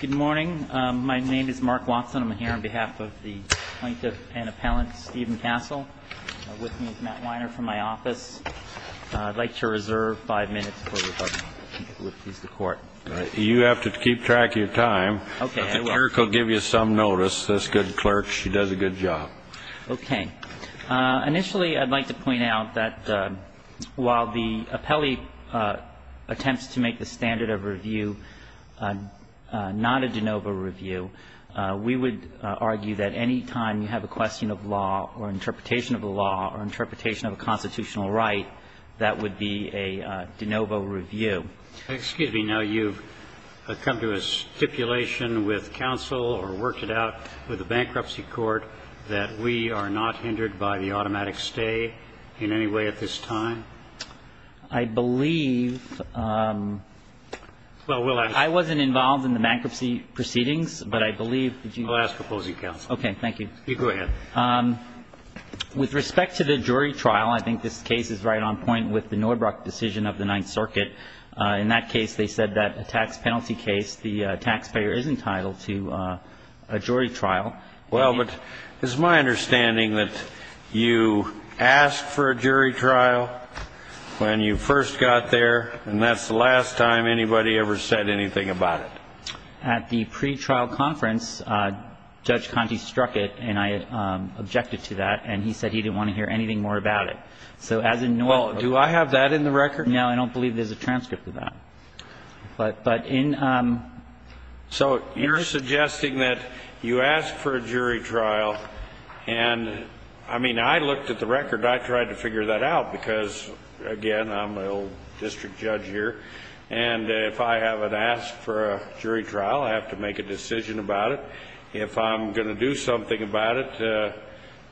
Good morning. My name is Mark Watson. I'm here on behalf of the plaintiff and appellant Stephen Kassel. With me is Matt Weiner from my office. I'd like to reserve five minutes for rebuttal. If it would please the court. You have to keep track of your time. Okay, I will. If the clerk will give you some notice, this good clerk, she does a good job. Okay. Initially I'd like to point out that while the appellee attempts to make the standard of review not a de novo review, we would argue that any time you have a question of law or interpretation of a law or interpretation of a constitutional right, that would be a de novo review. Excuse me. Now, you've come to a stipulation with counsel or worked it out with the bankruptcy court that we are not hindered by the automatic stay in any way at this time? I believe I wasn't involved in the bankruptcy proceedings, but I believe that you will. I'll ask opposing counsel. Okay. Thank you. You go ahead. With respect to the jury trial, I think this case is right on point with the Norbrook decision of the Ninth Circuit. In that case, they said that a tax penalty case, the taxpayer is entitled to a jury trial. Well, but it's my understanding that you asked for a jury trial when you first got there, and that's the last time anybody ever said anything about it. At the pretrial conference, Judge Conte struck it, and I objected to that, and he said he didn't want to hear anything more about it. So as in Norbrook ---- Well, do I have that in the record? No, I don't believe there's a transcript of that. But in ---- So you're suggesting that you asked for a jury trial, and, I mean, I looked at the record. I tried to figure that out because, again, I'm an old district judge here, and if I haven't asked for a jury trial, I have to make a decision about it. If I'm going to do something about it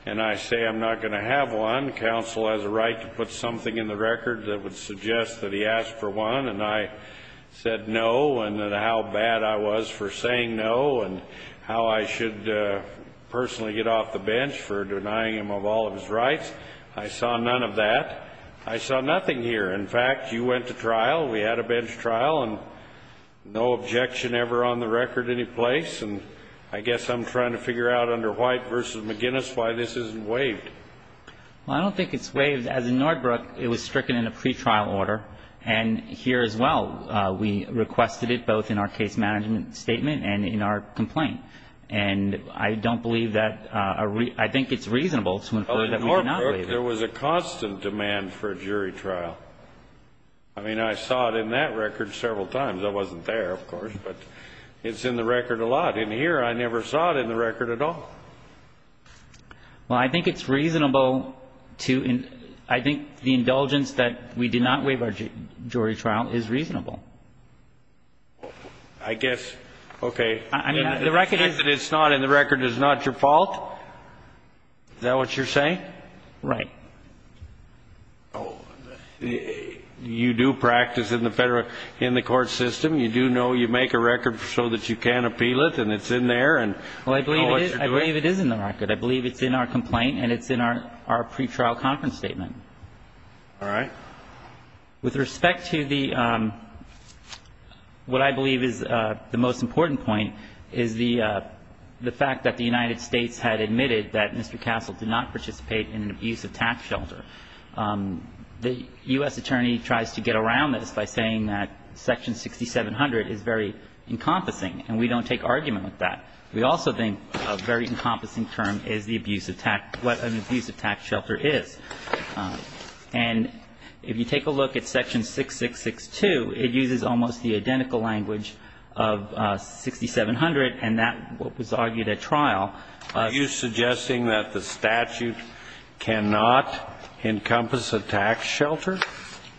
and I say I'm not going to have one, counsel has a right to put something in the record that would suggest that he asked for one, and I said no, and how bad I was for saying no, and how I should personally get off the bench for denying him of all of his rights. I saw none of that. I saw nothing here. In fact, you went to trial. We had a bench trial, and no objection ever on the record anyplace, and I guess I'm trying to figure out under White v. McGinnis why this isn't waived. Well, I don't think it's waived. As in Nordbrook, it was stricken in a pretrial order, and here as well. We requested it both in our case management statement and in our complaint. And I don't believe that ---- I think it's reasonable to infer that we did not waive it. In Nordbrook, there was a constant demand for a jury trial. I mean, I saw it in that record several times. I wasn't there, of course, but it's in the record a lot. In here, I never saw it in the record at all. Well, I think it's reasonable to ---- I think the indulgence that we did not waive our jury trial is reasonable. I guess. Okay. I mean, the record is ---- The fact that it's not in the record is not your fault? Is that what you're saying? Right. Oh, you do practice in the federal ---- in the court system. You do know you make a record so that you can appeal it, and it's in there, and ---- I believe it is in the record. I believe it's in our complaint, and it's in our pretrial conference statement. All right. With respect to the ---- what I believe is the most important point is the fact that the United States had admitted that Mr. Castle did not participate in an abuse of tax shelter. The U.S. attorney tries to get around this by saying that Section 6700 is very encompassing, and we don't take argument with that. We also think a very encompassing term is the abuse of tax ---- what an abuse of tax shelter is. And if you take a look at Section 6662, it uses almost the identical language of 6700, and that was argued at trial. Are you suggesting that the statute cannot encompass a tax shelter?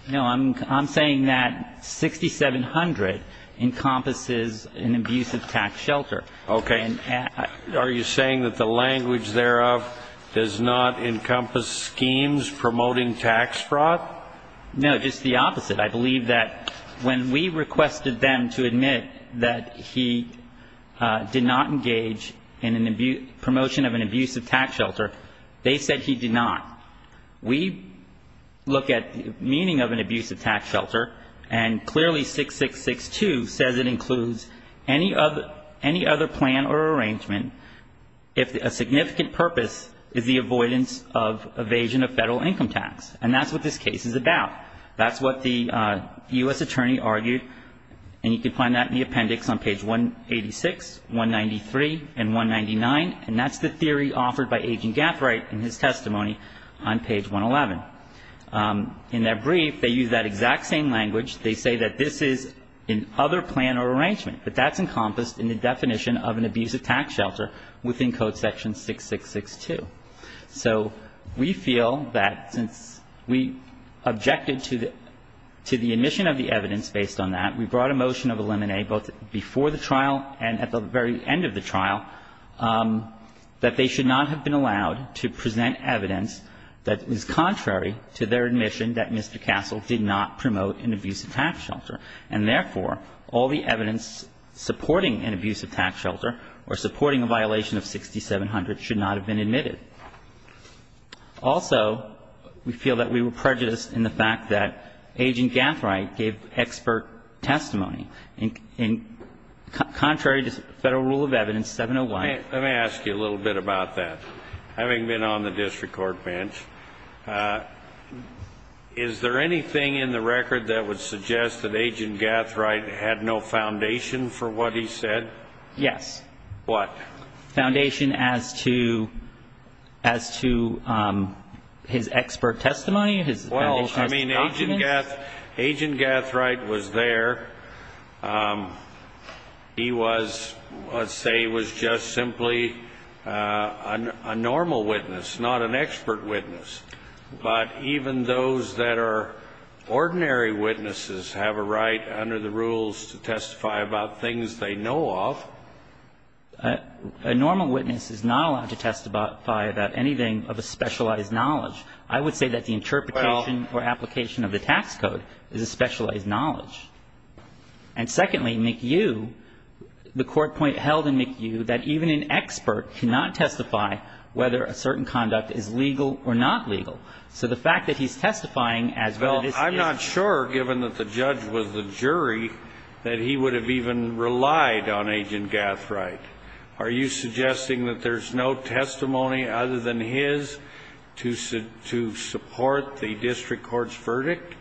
No. I'm saying that 6700 encompasses an abuse of tax shelter. Okay. Are you saying that the language thereof does not encompass schemes promoting tax fraud? No, just the opposite. I believe that when we requested them to admit that he did not engage in an abuse ---- promotion of an abuse of tax shelter, they said he did not. We look at the meaning of an abuse of tax shelter, and clearly 6662 says it includes any other plan or arrangement if a significant purpose is the avoidance of evasion of federal income tax, and that's what this case is about. That's what the U.S. attorney argued, and you can find that in the appendix on page 186, 193, and 199, and that's the theory offered by Agent Gathright in his testimony on page 111. In their brief, they use that exact same language. They say that this is an other plan or arrangement, but that's encompassed in the definition of an abuse of tax shelter within Code Section 6662. So we feel that since we objected to the admission of the evidence based on that, we brought a motion of limine, both before the trial and at the very end of the trial, that they should not have been allowed to present evidence that is contrary to their admission that Mr. Castle did not promote an abuse of tax shelter. And therefore, all the evidence supporting an abuse of tax shelter or supporting a violation of 6700 should not have been admitted. Also, we feel that we were prejudiced in the fact that Agent Gathright gave expert testimony, and contrary to Federal Rule of Evidence 701. Let me ask you a little bit about that. Having been on the district court bench, is there anything in the record that would suggest that Agent Gathright had no foundation for what he said? Yes. What? Foundation as to his expert testimony? Well, I mean, Agent Gathright was there. He was, let's say he was just simply a normal witness, not an expert witness. But even those that are ordinary witnesses have a right under the rules to testify about things they know of. A normal witness is not allowed to testify about anything of a specialized knowledge. I would say that the interpretation or application of the tax code is a specialized knowledge. And secondly, McHugh, the court point held in McHugh that even an expert cannot testify whether a certain conduct is legal or not legal. So the fact that he's testifying as well as this case. Well, I'm not sure, given that the judge was the jury, that he would have even relied on Agent Gathright. Are you suggesting that there's no testimony other than his to support the district court's verdict?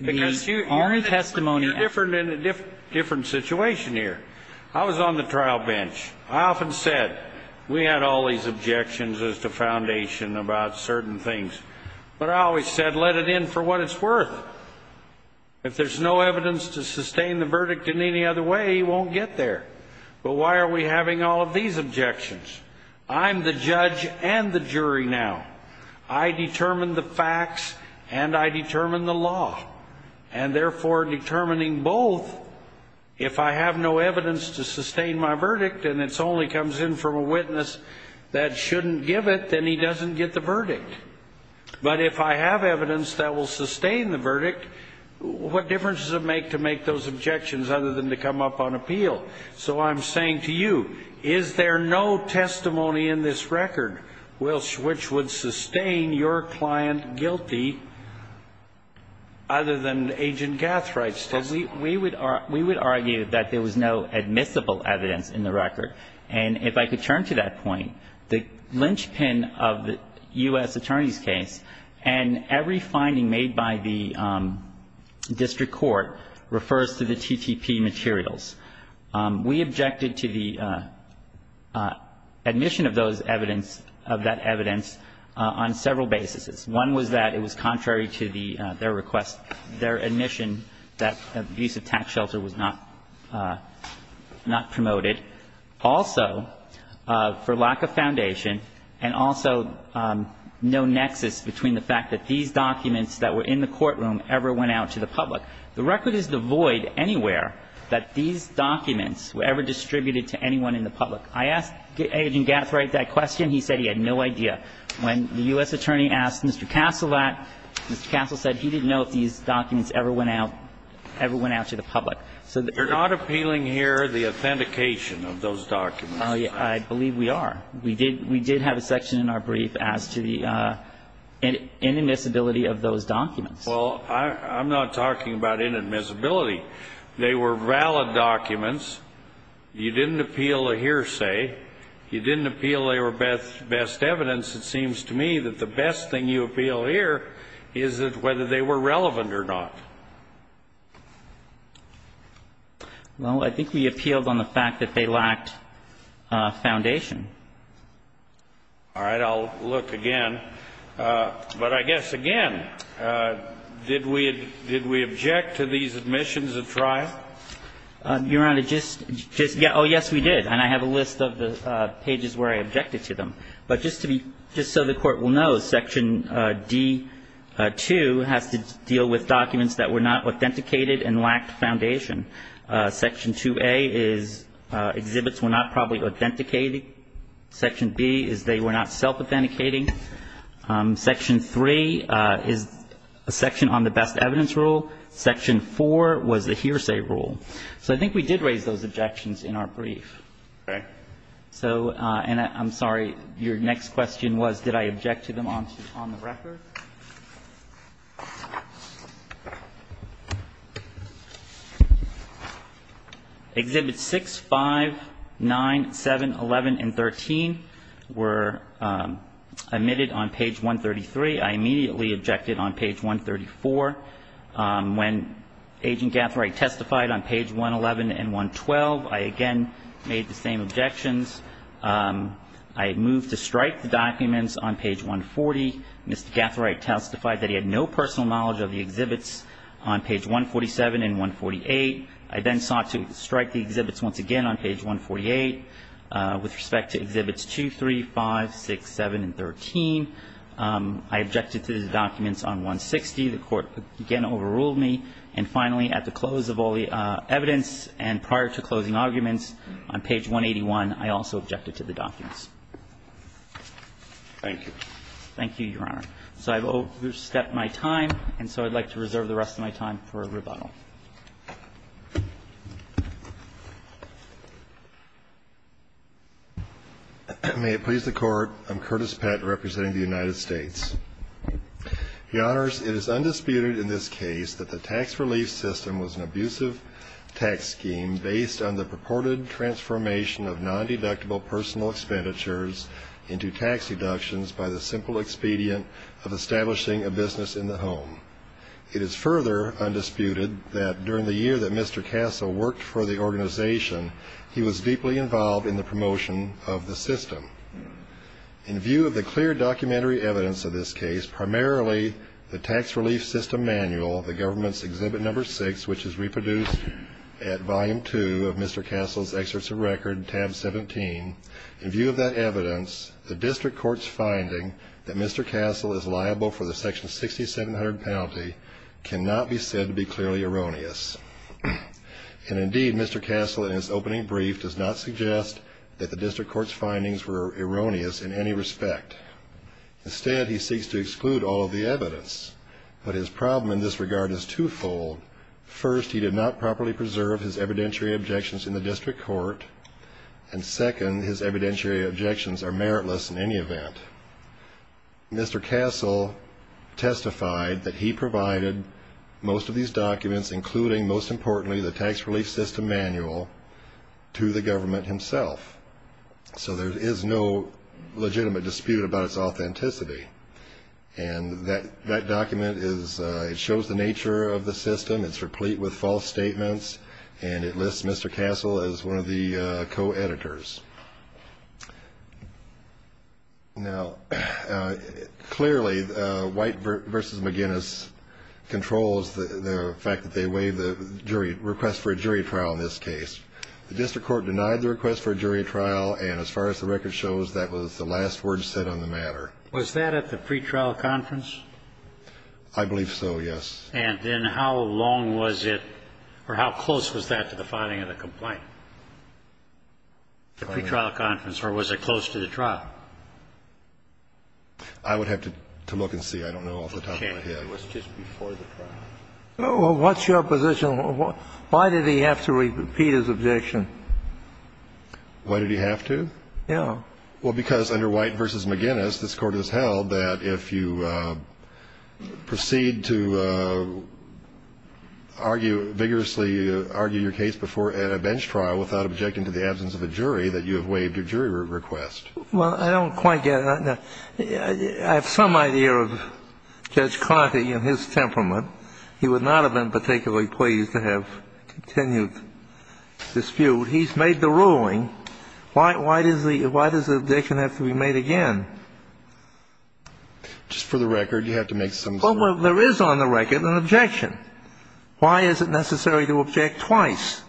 Because you're in testimony. You're in a different situation here. I was on the trial bench. I often said we had all these objections as to foundation about certain things. But I always said let it in for what it's worth. If there's no evidence to sustain the verdict in any other way, he won't get there. But why are we having all of these objections? I'm the judge and the jury now. I determine the facts and I determine the law. And therefore, determining both, if I have no evidence to sustain my verdict and it only comes in from a witness that shouldn't give it, then he doesn't get the verdict. But if I have evidence that will sustain the verdict, what difference does it make to make those objections other than to come up on appeal? So I'm saying to you, is there no testimony in this record which would sustain your client guilty other than Agent Gathright's testimony? We would argue that there was no admissible evidence in the record. And if I could turn to that point, the linchpin of the U.S. Attorney's case and every finding made by the district court refers to the TTP materials. We objected to the admission of those evidence, of that evidence, on several basis. One was that it was contrary to their request, their admission that abusive tax filter was not promoted. Also, for lack of foundation, and also no nexus between the fact that these documents that were in the courtroom ever went out to the public. The record is devoid anywhere that these documents were ever distributed to anyone in the public. I asked Agent Gathright that question. He said he had no idea. When the U.S. Attorney asked Mr. Castle that, Mr. Castle said he didn't know if these documents were valid or not. They're not appealing here the authentication of those documents. I believe we are. We did have a section in our brief as to the inadmissibility of those documents. Well, I'm not talking about inadmissibility. They were valid documents. You didn't appeal a hearsay. You didn't appeal they were best evidence. It seems to me that the best thing you appeal here is whether they were relevant or not. Well, I think we appealed on the fact that they lacked foundation. All right. I'll look again. But I guess, again, did we object to these admissions at trial? Your Honor, just to get oh, yes, we did. And I have a list of the pages where I objected to them. But just to be just so the Court will know, Section D-2 has to deal with documents that were not authenticated and lacked foundation. Section 2A is exhibits were not properly authenticated. Section B is they were not self-authenticating. Section 3 is a section on the best evidence rule. Section 4 was the hearsay rule. So I think we did raise those objections in our brief. All right. I'm sorry. Your next question was did I object to them on the record? Exhibits 6, 5, 9, 7, 11, and 13 were admitted on page 133. I immediately objected on page 134. When Agent Gathright testified on page 111 and 112, I again made the same objections. I moved to strike the documents on page 140. Mr. Gathright testified that he had no personal knowledge of the exhibits on page 147 and 148. I then sought to strike the exhibits once again on page 148 with respect to exhibits 2, 3, 5, 6, 7, and 13. I objected to the documents on 160. The Court again overruled me. And finally, at the close of all the evidence and prior to closing arguments, on page 181, I also objected to the documents. Thank you. Thank you, Your Honor. So I've overstepped my time, and so I'd like to reserve the rest of my time for rebuttal. May it please the Court. I'm Curtis Pett representing the United States. Your Honors, it is undisputed in this case that the tax relief system was an abusive tax scheme based on the purported transformation of non-deductible personal expenditures into tax deductions by the simple expedient of establishing a business in the home. It is further undisputed that during the year that Mr. Castle worked for the organization, he was deeply involved in the promotion of the system. In view of the clear documentary evidence of this case, primarily the tax relief system manual, the government's Exhibit No. 6, which is reproduced at Volume 2 of Mr. Castle's Excerpts of Record, Tab 17, in view of that evidence, the district court's finding that Mr. Castle is liable for the Section 6700 penalty cannot be said to be clearly erroneous. And indeed, Mr. Castle in his opening brief does not suggest that the district court's findings were erroneous in any respect. Instead, he seeks to exclude all of the evidence. But his problem in this regard is twofold. First, he did not properly preserve his evidentiary objections in the district court, and second, his evidentiary objections are meritless in any event. Mr. Castle testified that he provided most of these documents, including most importantly the tax relief system manual, to the government himself. So there is no legitimate dispute about its authenticity. And that document shows the nature of the system. It's replete with false statements, and it lists Mr. Castle as one of the co-editors. Now, clearly, White v. McGinnis controls the fact that they waived the request for a jury trial in this case. The district court denied the request for a jury trial, and as far as the record shows, that was the last word said on the matter. Was that at the pretrial conference? I believe so, yes. And then how long was it, or how close was that to the finding of the complaint? The pretrial conference, or was it close to the trial? I would have to look and see. I don't know off the top of my head. It was just before the trial. Well, what's your position? Why did he have to repeat his objection? Why did he have to? Yeah. Well, because under White v. McGinnis, this Court has held that if you proceed to argue vigorously, argue your case before at a bench trial without objecting to the absence of a jury, that you have waived your jury request. Well, I don't quite get it. I have some idea of Judge Conte and his temperament. He would not have been particularly pleased to have continued dispute. He's made the ruling. Why does the objection have to be made again? Just for the record, you have to make some sense of it. Well, there is on the record an objection. Why is it necessary to object twice?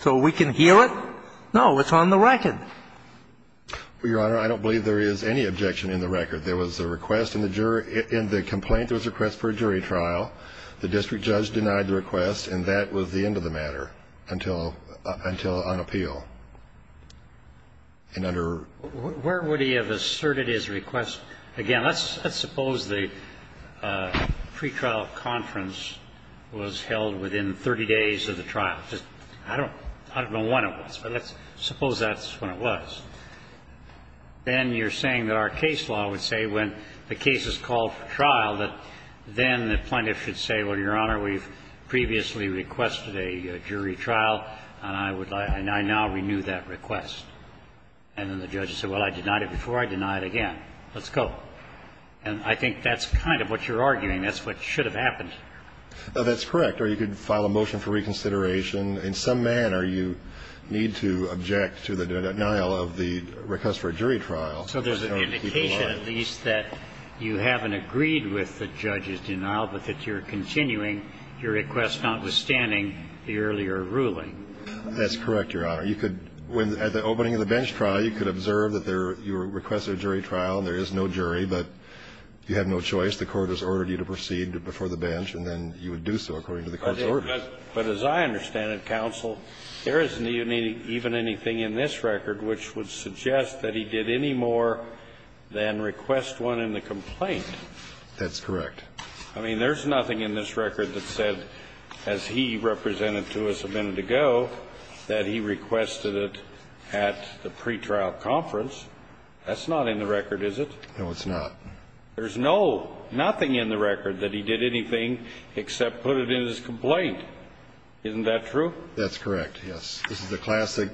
So we can hear it? No. It's on the record. Well, Your Honor, I don't believe there is any objection in the record. There was a request in the complaint. There was a request for a jury trial. The district judge denied the request, and that was the end of the matter until on appeal. And under ---- Where would he have asserted his request? Again, let's suppose the pretrial conference was held within 30 days of the trial. I don't know when it was, but let's suppose that's when it was. Then you're saying that our case law would say when the case is called for trial that then the plaintiff should say, well, Your Honor, we've previously requested a jury trial, and I now renew that request. And then the judge said, well, I denied it before, I deny it again. Let's go. And I think that's kind of what you're arguing. That's what should have happened. That's correct. Or you could file a motion for reconsideration. In some manner, you need to object to the denial of the request for a jury trial. So there's an indication at least that you haven't agreed with the judge's denial, but that you're continuing your request, notwithstanding the earlier ruling. That's correct, Your Honor. You could, at the opening of the bench trial, you could observe that you requested a jury trial, and there is no jury, but you have no choice. The court has ordered you to proceed before the bench, and then you would do so according to the court's orders. But as I understand it, counsel, there isn't even anything in this record which would suggest that he did any more than request one in the complaint. That's correct. I mean, there's nothing in this record that said, as he represented to us a minute ago, that he requested it at the pretrial conference. That's not in the record, is it? No, it's not. There's no, nothing in the record that he did anything except put it in his complaint. Isn't that true? That's correct, yes. This is a classic,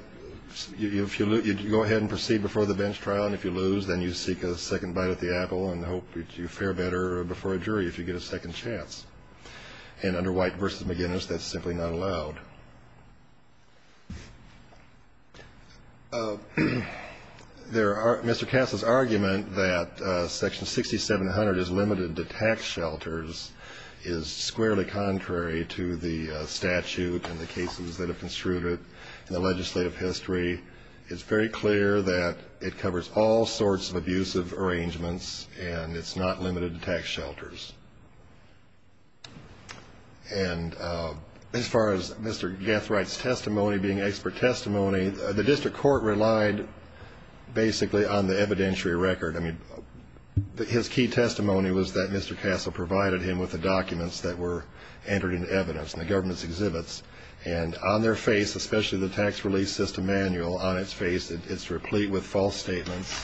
if you go ahead and proceed before the bench trial, and if you lose, then you seek a second bite at the apple and hope that you fare better before a jury if you get a second chance. And under White v. McGinnis, that's simply not allowed. Mr. Castle's argument that Section 6700 is limited to tax shelters is squarely contrary to the statute and the cases that have construed it in the legislative history. It's very clear that it covers all sorts of abusive arrangements, and it's not limited to tax shelters. And as far as Mr. Gethright's testimony being expert testimony, the district court relied basically on the evidentiary record. I mean, his key testimony was that Mr. Castle provided him with the documents that were entered into evidence in the government's exhibits, and on their face, especially the tax release system manual, on its face, it's replete with false statements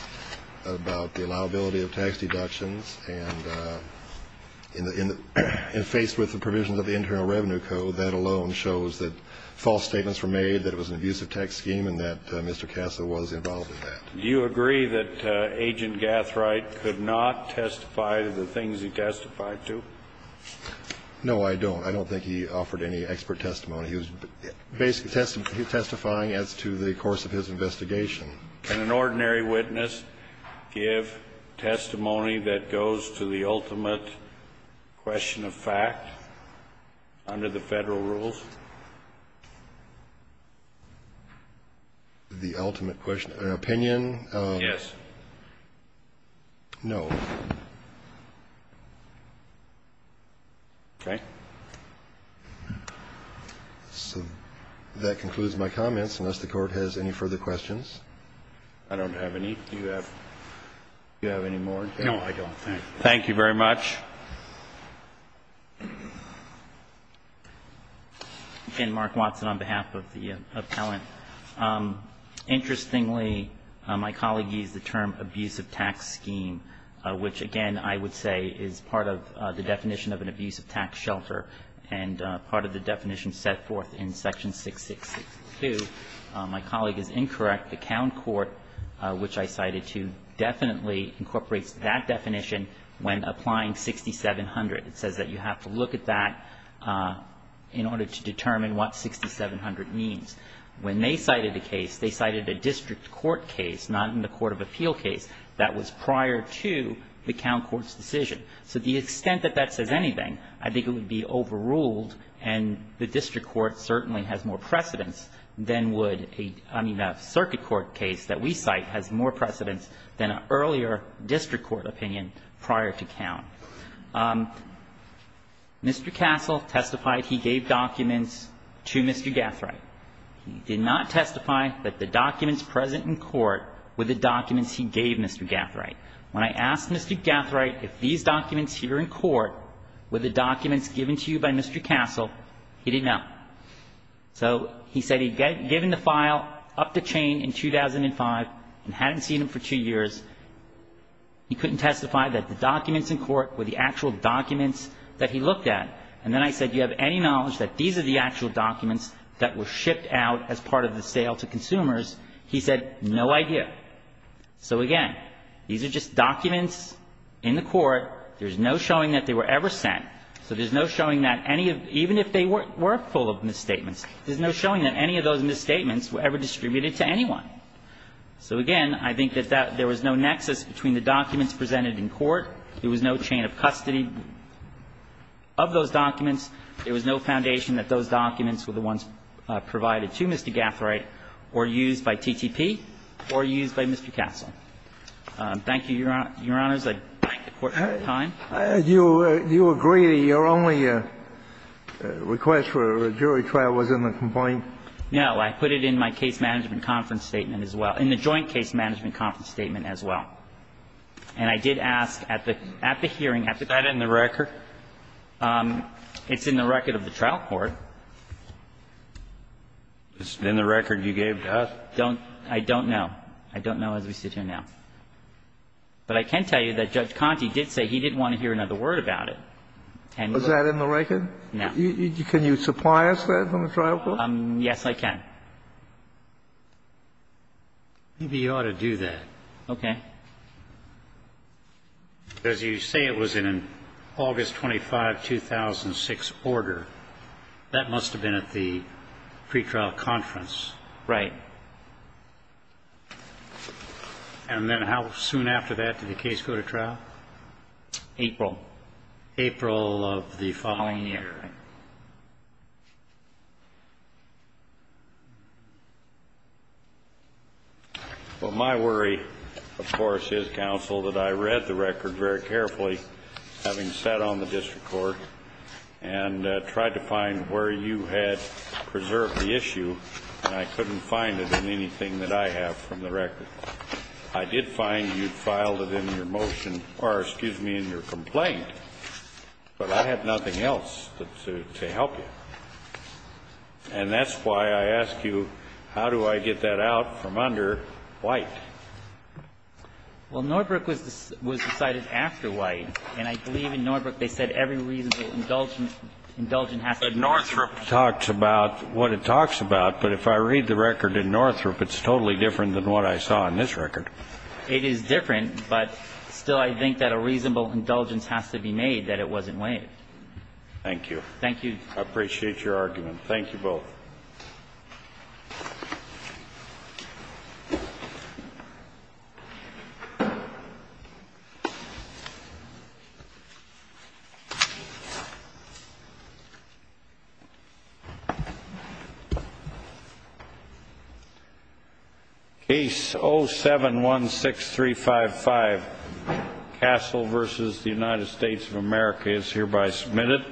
about the provisions of the Internal Revenue Code. That alone shows that false statements were made, that it was an abusive tax scheme, and that Mr. Castle was involved in that. Do you agree that Agent Gethright could not testify to the things he testified to? No, I don't. I don't think he offered any expert testimony. He was basically testifying as to the course of his investigation. Can an ordinary witness give testimony that goes to the ultimate question of fact under the Federal rules? The ultimate question of opinion? Yes. No. Okay. So that concludes my comments, unless the Court has any further questions. I don't have any. Do you have any more? No, I don't. Thank you very much. Again, Mark Watson on behalf of the appellant. Interestingly, my colleague used the term abusive tax scheme, which, again, I would say is part of the definition of an abusive tax shelter and part of the definition set forth in section 6662. My colleague is incorrect. The Count Court, which I cited, too, definitely incorporates that definition when applying 6700. It says that you have to look at that in order to determine what 6700 means. When they cited a case, they cited a district court case, not in the court of appeal case, that was prior to the Count Court's decision. So the extent that that says anything, I think it would be overruled, and the district court certainly has more precedence than would a, I mean, a circuit court case that we cite has more precedence than an earlier district court opinion prior to Count. Mr. Castle testified he gave documents to Mr. Gathright. He did not testify that the documents present in court were the documents he gave Mr. Gathright. When I asked Mr. Gathright if these documents here in court were the documents given to you by Mr. Castle, he didn't know. So he said he'd given the file up the chain in 2005 and hadn't seen them for two years. He couldn't testify that the documents in court were the actual documents that he looked at. And then I said, you have any knowledge that these are the actual documents that were shipped out as part of the sale to consumers? He said, no idea. So, again, these are just documents in the court. There's no showing that they were ever sent. So there's no showing that any of them, even if they were full of misstatements, there's no showing that any of those misstatements were ever distributed to anyone. So, again, I think that there was no nexus between the documents presented in court. There was no chain of custody. Of those documents, there was no foundation that those documents were the ones provided to Mr. Gathright or used by TTP or used by Mr. Castle. Thank you, Your Honors. I thank the Court for your time. Do you agree that your only request for a jury trial was in the complaint? No. I put it in my case management conference statement as well, in the joint case management conference statement as well. And I did ask at the hearing, at the trial court. Is that in the record? It's in the record of the trial court. Is it in the record you gave to us? I don't know. I don't know as we sit here now. But I can tell you that Judge Conte did say he didn't want to hear another word about it. And he was. Is that in the record? No. Can you supply us that from the trial court? Yes, I can. Maybe you ought to do that. Okay. As you say, it was in an August 25, 2006 order. That must have been at the pretrial conference. Right. And then how soon after that did the case go to trial? April. April of the following year. Okay. Well, my worry, of course, is, counsel, that I read the record very carefully, having sat on the district court, and tried to find where you had preserved the issue, and I couldn't find it in anything that I have from the record. I did find you'd filed it in your motion or, excuse me, in your complaint. But I had nothing else to help you. And that's why I ask you, how do I get that out from under White? Well, Norbrook was decided after White. And I believe in Norbrook they said every reasonable indulgence has to be made. But Northrop talks about what it talks about. But if I read the record in Northrop, it's totally different than what I saw in this record. It is different, but still I think that a reasonable indulgence has to be made that it wasn't waived. Thank you. Thank you. I appreciate your argument. Thank you both. Case 07-16355, Castle v. United States of America, is hereby submitted.